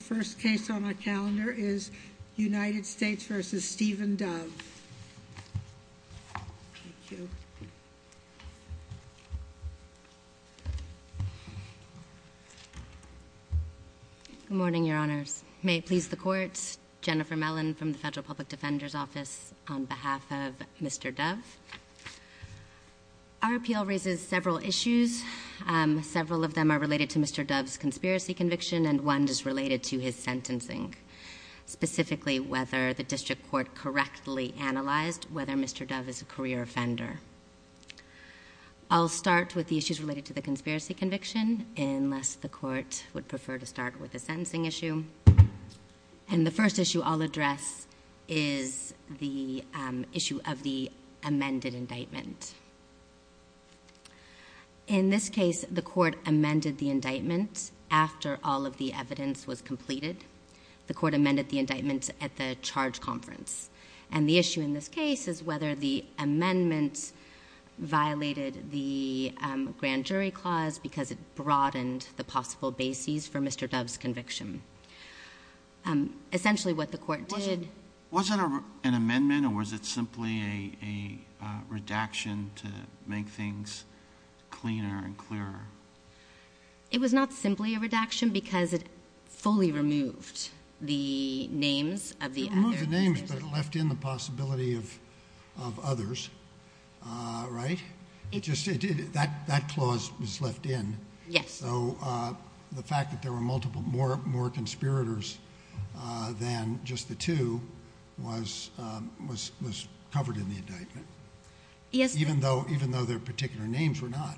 First case on my calendar is United States v. Stephen Dove. Good morning, Your Honors. May it please the Court, Jennifer Mellon from the Federal Public Defender's Office on behalf of Mr. Dove. Our appeal raises several issues, several of them are related to Mr. Dove's conspiracy conviction and one is related to his sentencing, specifically whether the District Court correctly analyzed whether Mr. Dove is a career offender. I'll start with the issues related to the conspiracy conviction, unless the Court would prefer to start with the sentencing issue. And the first issue I'll address is the issue of the amended indictment. In this case, the Court amended the indictment after all of the evidence was completed. The Court amended the indictment at the charge conference and the issue in this case is whether the amendment violated the grand jury clause because it broadened the possible bases for Mr. Dove's conviction. Essentially what the Court did... Was it an amendment or was it simply a redaction to make things cleaner and clearer? It was not simply a redaction because it fully removed the names of the other... That clause was left in, so the fact that there were more conspirators than just the two was covered in the indictment, even though their particular names were not.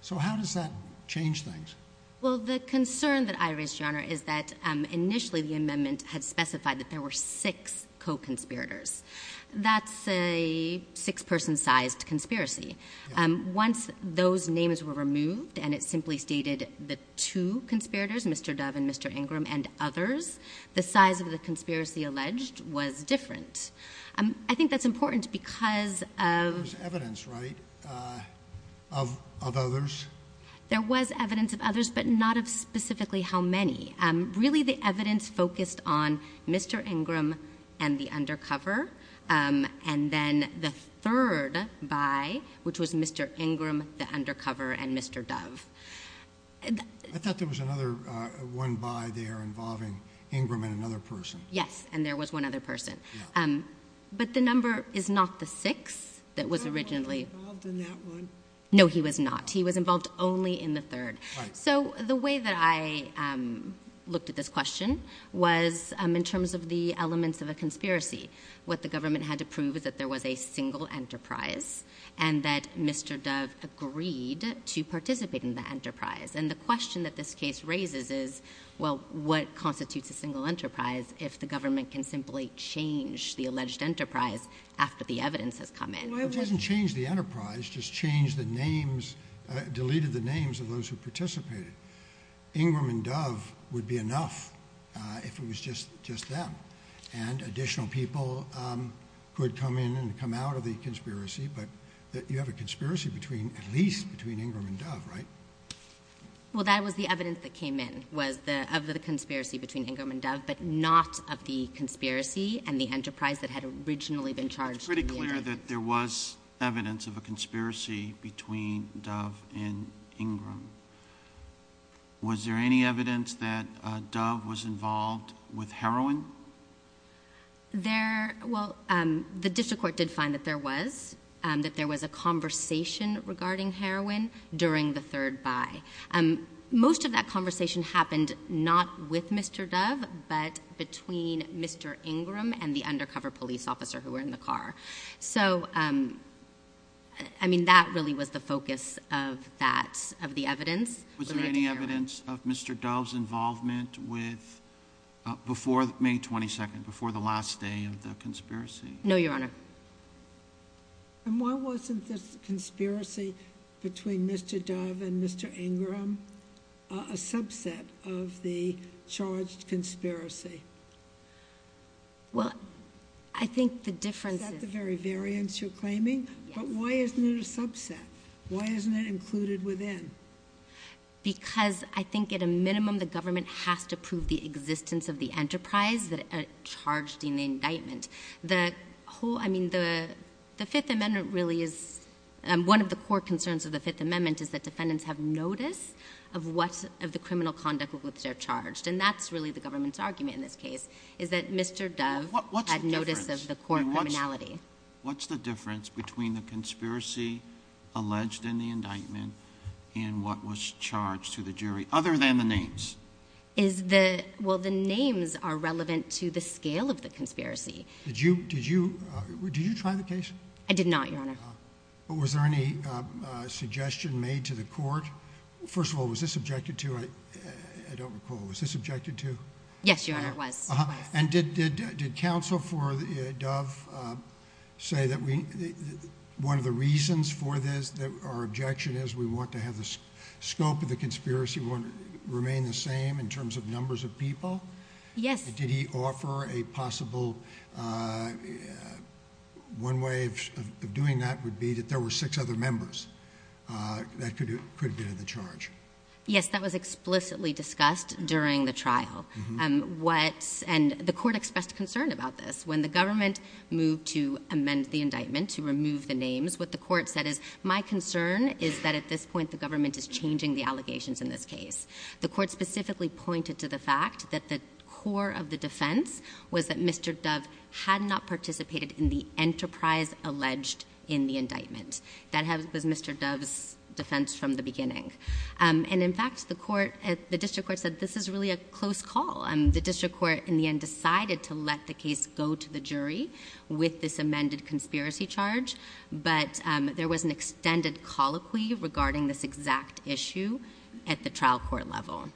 So how does that change things? Well, the concern that I raise, Your Honor, is that initially the amendment had specified that there were six co-conspirators. That's a six-person-sized conspiracy. Once those names were removed and it simply stated the two conspirators, Mr. Dove and Mr. Ingram and others, the size of the conspiracy alleged was different. I think that's important because of... There was evidence, right, of others? There was evidence of others, but not of specifically how many. Really the evidence focused on Mr. Ingram and the undercover, and then the third buy, which was Mr. Ingram, the undercover, and Mr. Dove. I thought there was another one buy there involving Ingram and another person. Yes, and there was one other person. But the number is not the six that was originally... He wasn't involved in that one. No, he was not. He was involved only in the third. So the way that I looked at this question was in terms of the elements of a conspiracy. What the government had to prove is that there was a single enterprise and that Mr. Dove agreed to participate in the enterprise. And the question that this case raises is, well, what constitutes a single enterprise if the government can simply change the alleged enterprise after the evidence has come in? It doesn't change the enterprise, just change the names, deleted the names of those who participated. Ingram and Dove would be enough if it was just them and additional people who had come in and come out of the conspiracy. But you have a conspiracy at least between Ingram and Dove, right? Well, that was the evidence that came in was of the conspiracy between Ingram and Dove, but not of the conspiracy and the enterprise that had originally been charged. It's pretty clear that there was evidence of a conspiracy between Dove and Ingram. Was there any evidence that Dove was involved with heroin? Well, the district court did find that there was, that there was a conversation regarding heroin during the third buy. Most of that conversation happened not with Mr. Dove, but between Mr. Ingram and the undercover police officer who were in the car. So, I mean, that really was the focus of that, of the evidence. Was there any evidence of Mr. Dove's involvement with, before May 22nd, before the last day of the conspiracy? No, Your Honor. And why wasn't this conspiracy between Mr. Dove and Mr. Ingram a subset of the charged conspiracy? Well, I think the difference is— Is that the very variance you're claiming? Yes. But why isn't it a subset? Why isn't it included within? Because I think at a minimum the government has to prove the existence of the enterprise that it charged in the indictment. The whole, I mean, the Fifth Amendment really is, one of the core concerns of the Fifth Amendment is that defendants have notice of what, of the criminal conduct with which they're charged. And that's really the government's argument in this case, is that Mr. Dove had notice of the court criminality. What's the difference between the conspiracy alleged in the indictment and what was charged to the jury, other than the names? Is the, well, the names are relevant to the scale of the conspiracy. Did you, did you, did you try the case? I did not, Your Honor. But was there any suggestion made to the court? First of all, was this objected to? I don't recall. Was this objected to? Yes, Your Honor, it was. And did counsel for Dove say that one of the reasons for this, that our objection is we want to have the scope of the conspiracy remain the same in terms of numbers of people? Yes. And did he offer a possible, one way of doing that would be that there were six other members that could have been in the charge? Yes, that was explicitly discussed during the trial. What, and the court expressed concern about this. When the government moved to amend the indictment to remove the names, what the court said is, my concern is that at this point the government is changing the allegations in this case. The court specifically pointed to the fact that the core of the defense was that Mr. Dove had not participated in the enterprise alleged in the indictment. That was Mr. Dove's defense from the beginning. And in fact, the court, the district court said this is really a close call. The district court in the end decided to let the case go to the jury with this amended conspiracy charge, but there was an extended colloquy regarding this exact issue at the trial court level.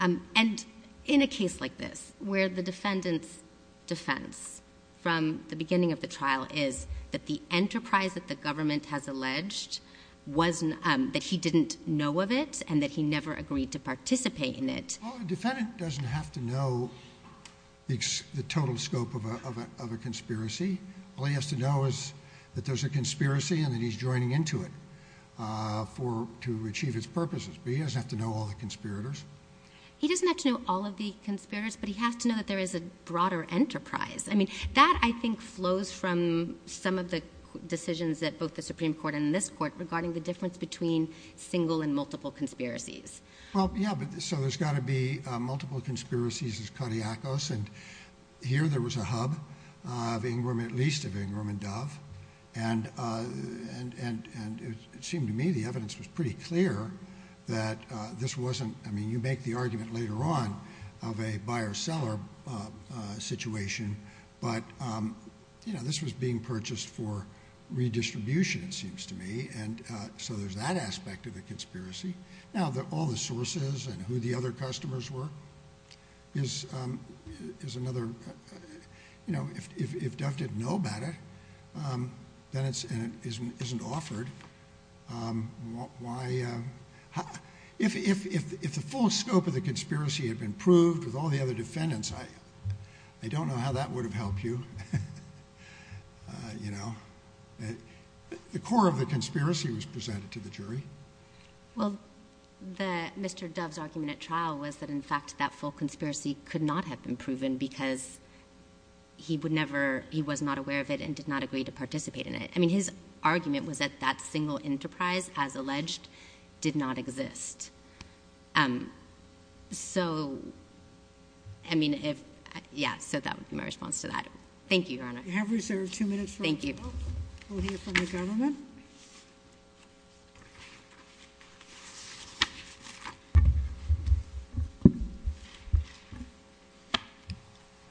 And in a case like this where the defendant's defense from the beginning of the trial is that the enterprise that the government has alleged was that he didn't know of it and that he never agreed to participate in it. Well, a defendant doesn't have to know the total scope of a conspiracy. All he has to know is that there's a conspiracy and that he's joining into it to achieve its purposes. But he doesn't have to know all the conspirators. He doesn't have to know all of the conspirators, but he has to know that there is a broader enterprise. I mean, that I think flows from some of the decisions at both the Supreme Court and this court regarding the difference between single and multiple conspiracies. Well, yeah. So there's got to be multiple conspiracies as cardiac us. And here there was a hub of Ingram, at least of Ingram and Dove. And it seemed to me the evidence was pretty clear that this wasn't – I mean, you make the argument later on of a buyer-seller situation, but this was being purchased for redistribution, it seems to me. And so there's that aspect of the conspiracy. Now, all the sources and who the other customers were is another – if Dove didn't know about it, and it isn't offered, why – if the full scope of the conspiracy had been proved with all the other defendants, I don't know how that would have helped you. The core of the conspiracy was presented to the jury. Well, Mr. Dove's argument at trial was that, in fact, that full conspiracy could not have been proven because he would never – he was not aware of it and did not agree to participate in it. I mean, his argument was that that single enterprise, as alleged, did not exist. So, I mean, if – yeah, so that would be my response to that. Thank you, Your Honor. You have reserved two minutes for – Thank you. We'll hear from the government. Go ahead.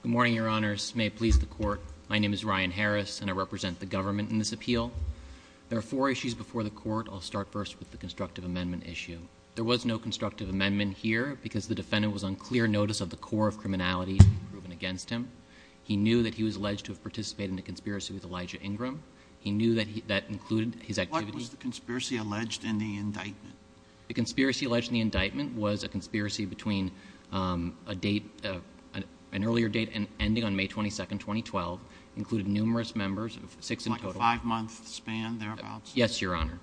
Good morning, Your Honors. May it please the Court. My name is Ryan Harris, and I represent the government in this appeal. There are four issues before the Court. I'll start first with the constructive amendment issue. There was no constructive amendment here because the defendant was on clear notice of the core of criminality being proven against him. He knew that he was alleged to have participated in a conspiracy with Elijah Ingram. He knew that that included his activity – What was the conspiracy alleged in the indictment? The conspiracy alleged in the indictment was a conspiracy between a date – an earlier date ending on May 22, 2012, included numerous members of six in total. Like a five-month span thereabouts? Yes, Your Honor.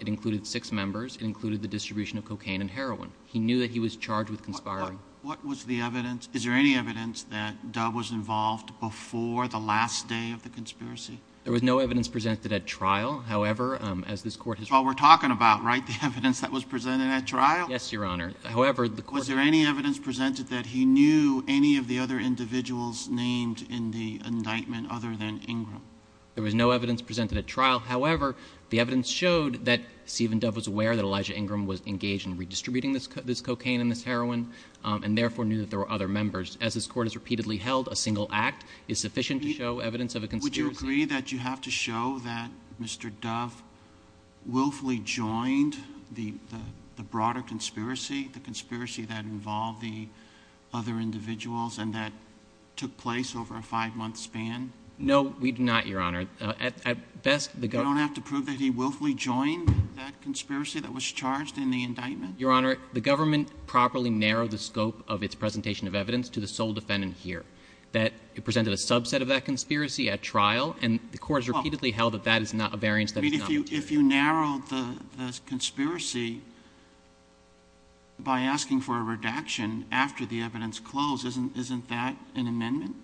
It included six members. It included the distribution of cocaine and heroin. He knew that he was charged with conspiring. What was the evidence – is there any evidence that Dove was involved before the last day of the conspiracy? There was no evidence presented at trial. However, as this Court has – That's what we're talking about, right? The evidence that was presented at trial? Yes, Your Honor. However, the Court – Was there any evidence presented that he knew any of the other individuals named in the indictment other than Ingram? There was no evidence presented at trial. However, the evidence showed that Stephen Dove was aware that Elijah Ingram was engaged in redistributing this cocaine and this heroin and therefore knew that there were other members. As this Court has repeatedly held, a single act is sufficient to show evidence of a conspiracy. Would you agree that you have to show that Mr. Dove willfully joined the broader conspiracy, the conspiracy that involved the other individuals and that took place over a five-month span? No, we do not, Your Honor. At best, the – You don't have to prove that he willfully joined that conspiracy that was charged in the indictment? Your Honor, the government properly narrowed the scope of its presentation of evidence to the sole defendant here. It presented a subset of that conspiracy at trial, and the Court has repeatedly held that that is not a variance that is not – If you narrowed the conspiracy by asking for a redaction after the evidence closed, isn't that an amendment?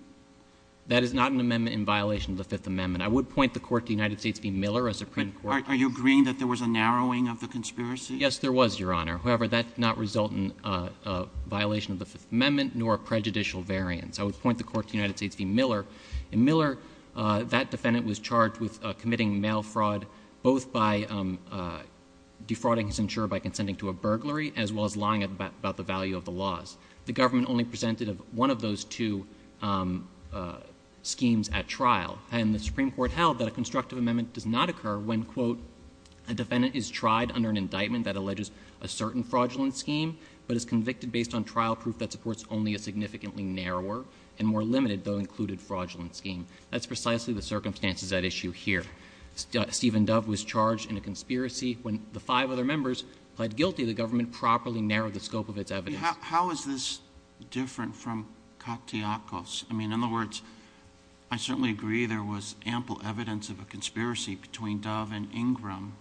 That is not an amendment in violation of the Fifth Amendment. I would point the Court to the United States v. Miller, a Supreme Court – Are you agreeing that there was a narrowing of the conspiracy? Yes, there was, Your Honor. However, that did not result in a violation of the Fifth Amendment nor a prejudicial variance. I would point the Court to the United States v. Miller. In Miller, that defendant was charged with committing mail fraud both by defrauding his insurer by consenting to a burglary as well as lying about the value of the laws. The government only presented one of those two schemes at trial, and the Supreme Court held that a constructive amendment does not occur when, quote, a defendant is tried under an indictment that alleges a certain fraudulent scheme but is convicted based on trial proof that supports only a significantly narrower and more limited, though included, fraudulent scheme. That's precisely the circumstances at issue here. Stephen Dove was charged in a conspiracy. When the five other members pled guilty, the government properly narrowed the scope of its evidence. How is this different from Kaktiakos? I mean, in other words, I certainly agree there was ample evidence of a conspiracy between Dove and Ingram.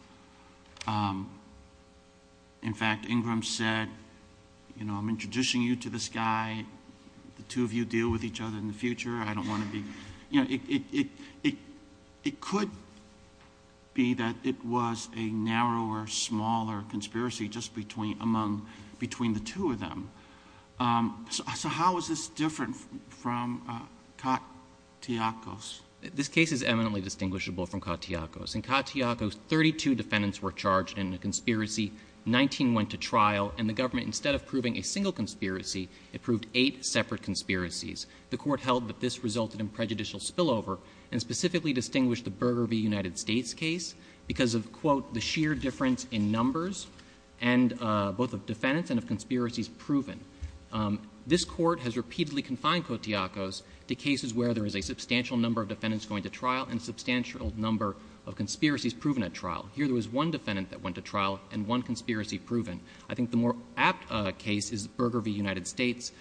In fact, Ingram said, you know, I'm introducing you to this guy, the two of you deal with each other in the future, I don't want to be... You know, it could be that it was a narrower, smaller conspiracy just between the two of them. So how is this different from Kaktiakos? This case is eminently distinguishable from Kaktiakos. In Kaktiakos, 32 defendants were charged in a conspiracy, 19 went to trial, and the government, instead of proving a single conspiracy, it proved eight separate conspiracies. The Court held that this resulted in prejudicial spillover and specifically distinguished the Burger v. United States case because of, quote, the sheer difference in numbers and both of defendants and of conspiracies proven. This Court has repeatedly confined Kaktiakos to cases where there is a substantial number of defendants going to trial and a substantial number of conspiracies proven at trial. Here there was one defendant that went to trial and one conspiracy proven. I think the more apt case is Burger v. United States,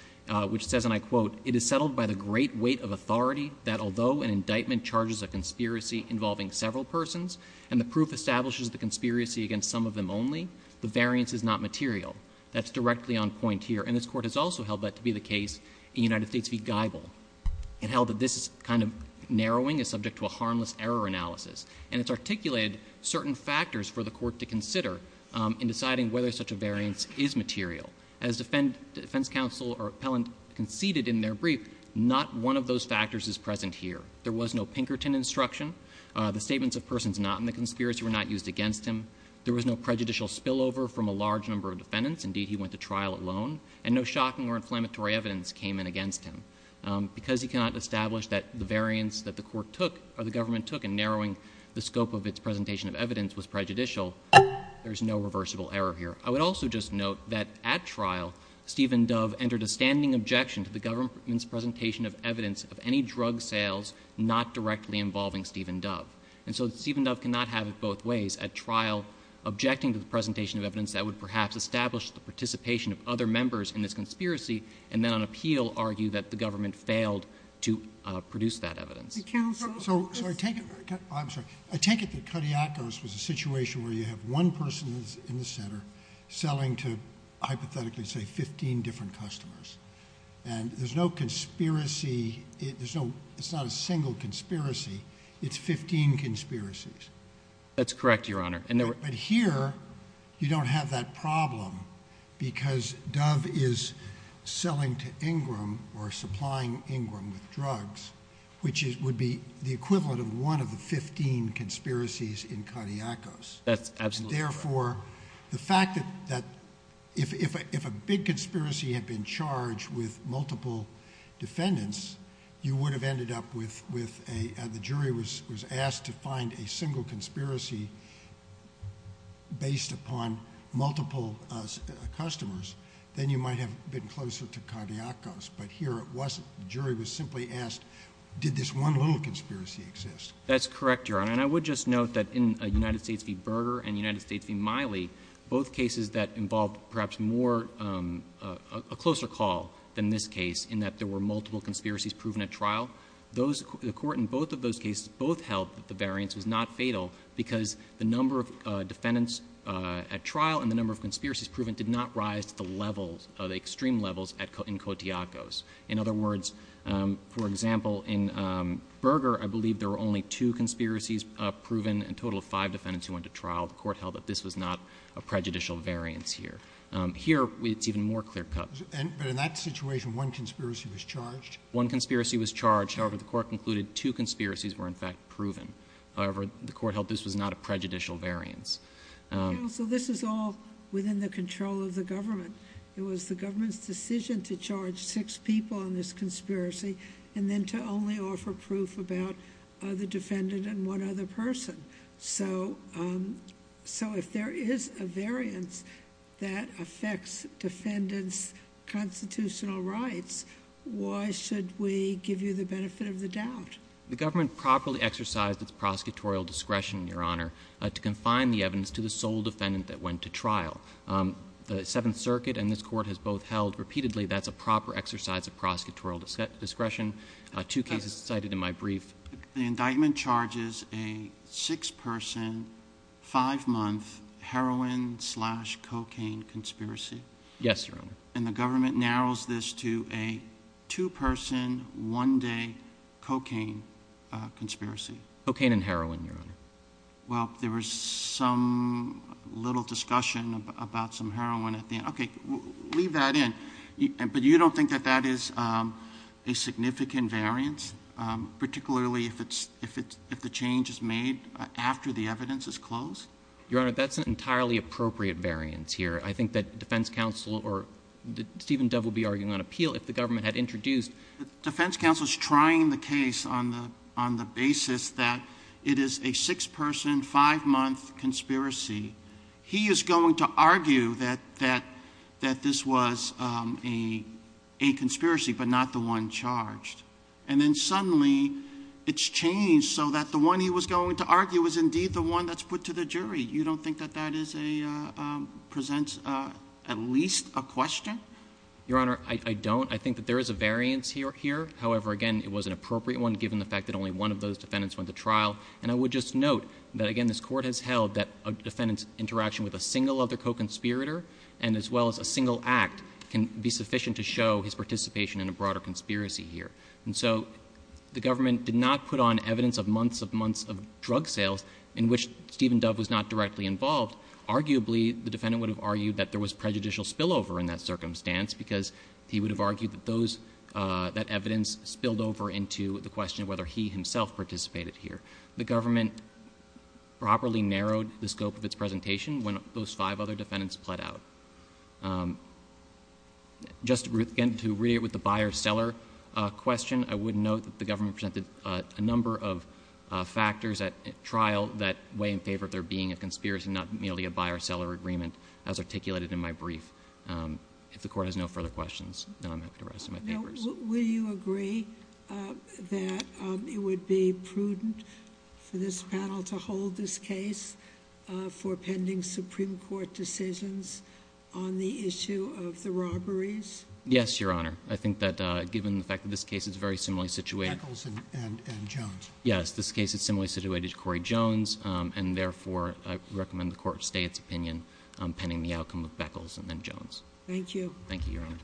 which says, and I quote, it is settled by the great weight of authority that although an indictment charges a conspiracy involving several persons and the proof establishes the conspiracy against some of them only, the variance is not material. That's directly on point here. And this Court has also held that to be the case in United States v. Geibel. It held that this kind of narrowing is subject to a harmless error analysis. And it's articulated certain factors for the Court to consider in deciding whether such a variance is material. As defense counsel or appellant conceded in their brief, not one of those factors is present here. There was no Pinkerton instruction. The statements of persons not in the conspiracy were not used against him. There was no prejudicial spillover from a large number of defendants. Indeed, he went to trial alone. And no shocking or inflammatory evidence came in against him. Because he cannot establish that the variance that the Court took or the government took in narrowing the scope of its presentation of evidence was prejudicial, there is no reversible error here. I would also just note that at trial, Stephen Dove entered a standing objection to the government's presentation of evidence of any drug sales not directly involving Stephen Dove. And so Stephen Dove cannot have it both ways. At trial, objecting to the presentation of evidence that would perhaps establish the participation of other members in this conspiracy and then on appeal argue that the government failed to produce that evidence. Counsel? I take it that Kodiakos was a situation where you have one person in the center selling to hypothetically, say, 15 different customers. And there's no conspiracy. It's not a single conspiracy. It's 15 conspiracies. That's correct, Your Honor. But here, you don't have that problem because Dove is selling to Ingram or supplying Ingram with drugs, which would be the equivalent of one of the 15 conspiracies in Kodiakos. That's absolutely correct. And therefore, the fact that if a big conspiracy had been charged with multiple defendants, you would have ended up with a, the jury was asked to find a single conspiracy based upon multiple customers, then you might have been closer to Kodiakos. But here it wasn't. The jury was simply asked, did this one little conspiracy exist? That's correct, Your Honor. And I would just note that in United States v. Berger and United States v. Miley, both cases that involved perhaps more, a closer call than this case, in that there were multiple conspiracies proven at trial, the court in both of those cases both held that the variance was not fatal because the number of defendants at trial and the number of conspiracies proven did not rise to the levels, the extreme levels in Kodiakos. In other words, for example, in Berger, I believe there were only two conspiracies proven, a total of five defendants who went to trial. The court held that this was not a prejudicial variance here. Here, it's even more clear-cut. But in that situation, one conspiracy was charged? One conspiracy was charged. However, the court concluded two conspiracies were in fact proven. However, the court held this was not a prejudicial variance. Counsel, this is all within the control of the government. It was the government's decision to charge six people on this conspiracy and then to only offer proof about the defendant and one other person. So if there is a variance that affects defendants' constitutional rights, why should we give you the benefit of the doubt? The government properly exercised its prosecutorial discretion, Your Honor, to confine the evidence to the sole defendant that went to trial. The Seventh Circuit and this court has both held repeatedly that's a proper exercise of prosecutorial discretion. Two cases cited in my brief. The indictment charges a six-person, five-month heroin-slash-cocaine conspiracy? Yes, Your Honor. And the government narrows this to a two-person, one-day cocaine conspiracy? Cocaine and heroin, Your Honor. Well, there was some little discussion about some heroin at the end. Okay, leave that in. But you don't think that that is a significant variance, particularly if the change is made after the evidence is closed? Your Honor, that's an entirely appropriate variance here. I think that defense counsel or Stephen Dove will be arguing on appeal if the government had introduced. The defense counsel is trying the case on the basis that it is a six-person, five-month conspiracy. He is going to argue that this was a conspiracy but not the one charged. And then suddenly it's changed so that the one he was going to argue was indeed the one that's put to the jury. You don't think that that presents at least a question? Your Honor, I don't. I think that there is a variance here. However, again, it was an appropriate one given the fact that only one of those defendants went to trial. And I would just note that, again, this Court has held that a defendant's interaction with a single other co-conspirator and as well as a single act can be sufficient to show his participation in a broader conspiracy here. And so the government did not put on evidence of months of months of drug sales in which Stephen Dove was not directly involved. Arguably, the defendant would have argued that there was prejudicial spillover in that circumstance because he would have argued that that evidence spilled over into the question of whether he himself participated here. The government properly narrowed the scope of its presentation when those five other defendants pled out. Just, again, to reiterate with the buyer-seller question, I would note that the government presented a number of factors at trial that weigh in favor of there being a conspiracy and not merely a buyer-seller agreement as articulated in my brief. If the Court has no further questions, then I'm happy to rest my papers. Will you agree that it would be prudent for this panel to hold this case for pending Supreme Court decisions on the issue of the robberies? Yes, Your Honor. I think that given the fact that this case is very similarly situated... Echols and Jones. Yes, this case is similarly situated to Corey Jones, and therefore I recommend the Court stay its opinion pending the outcome of Echols and then Jones. Thank you. Thank you, Your Honor.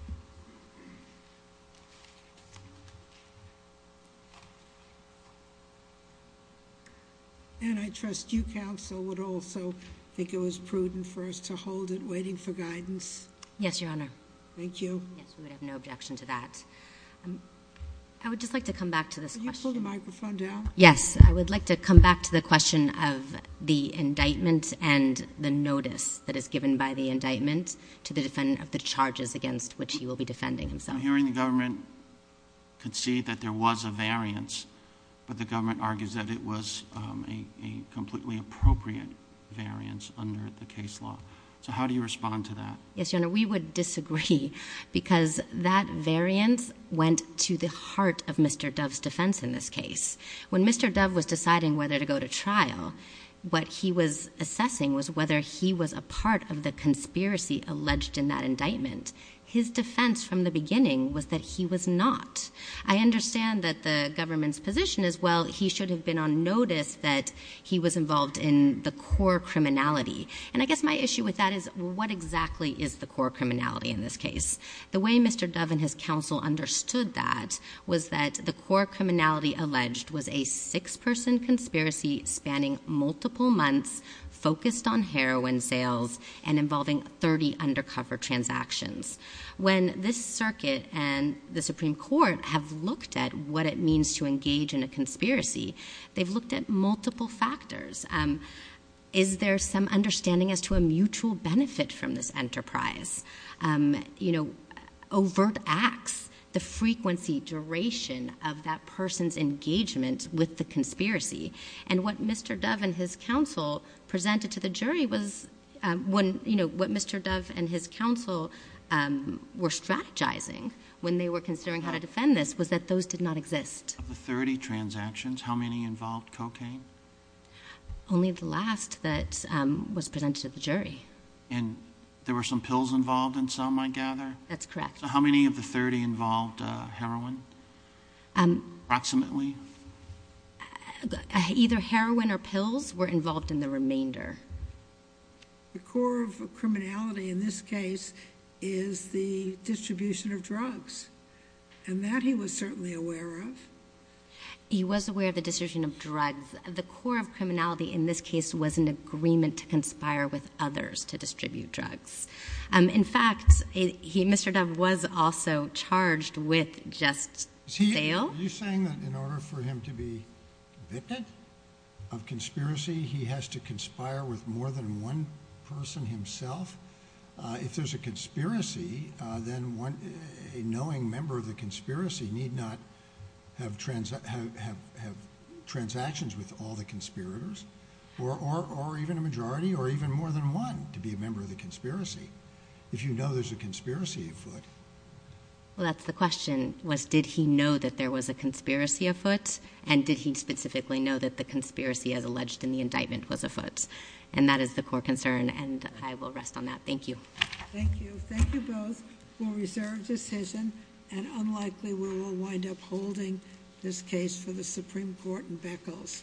And I trust you, Counsel, would also think it was prudent for us to hold it waiting for guidance? Yes, Your Honor. Thank you. Yes, we would have no objection to that. I would just like to come back to this question. Counsel, the microphone down. Yes. I would like to come back to the question of the indictment and the notice that is given by the indictment to the defendant of the charges against which he will be defending himself. I'm hearing the government concede that there was a variance, but the government argues that it was a completely appropriate variance under the case law. How do you respond to that? Yes, Your Honor, we would disagree because that variance went to the heart of Mr. Dove's defense in this case. When Mr. Dove was deciding whether to go to trial, what he was assessing was whether he was a part of the conspiracy alleged in that indictment. His defense from the beginning was that he was not. I understand that the government's position is, well, he should have been on notice that he was involved in the core criminality. I guess my issue with that is what exactly is the core criminality in this case? The way Mr. Dove and his counsel understood that was that the core criminality alleged was a six-person conspiracy spanning multiple months, focused on heroin sales, and involving 30 undercover transactions. When this circuit and the Supreme Court have looked at what it means to engage in a conspiracy, they've looked at multiple factors. Is there some understanding as to a mutual benefit from this enterprise? Overt acts, the frequency, duration of that person's engagement with the conspiracy. What Mr. Dove and his counsel presented to the jury was... What Mr. Dove and his counsel were strategizing when they were considering how to defend this was that those did not exist. Of the 30 transactions, how many involved cocaine? Only the last that was presented to the jury. There were some pills involved in some, I gather? That's correct. How many of the 30 involved heroin, approximately? Either heroin or pills were involved in the remainder. The core of criminality in this case is the distribution of drugs, and that he was certainly aware of. He was aware of the distribution of drugs. The core of criminality in this case was an agreement to conspire with others to distribute drugs. In fact, Mr. Dove was also charged with just sale. Are you saying that in order for him to be convicted of conspiracy, he has to conspire with more than one person himself? If there's a conspiracy, then a knowing member of the conspiracy need not have transactions with all the conspirators, or even a majority, or even more than one to be a member of the conspiracy, if you know there's a conspiracy afoot. That's the question, was did he know that there was a conspiracy afoot, and did he specifically know that the conspiracy as alleged in the indictment was afoot? That is the core concern, and I will rest on that. Thank you. Thank you. Thank you both for a reserved decision, and unlikely we will wind up holding this case for the Supreme Court in Beckles.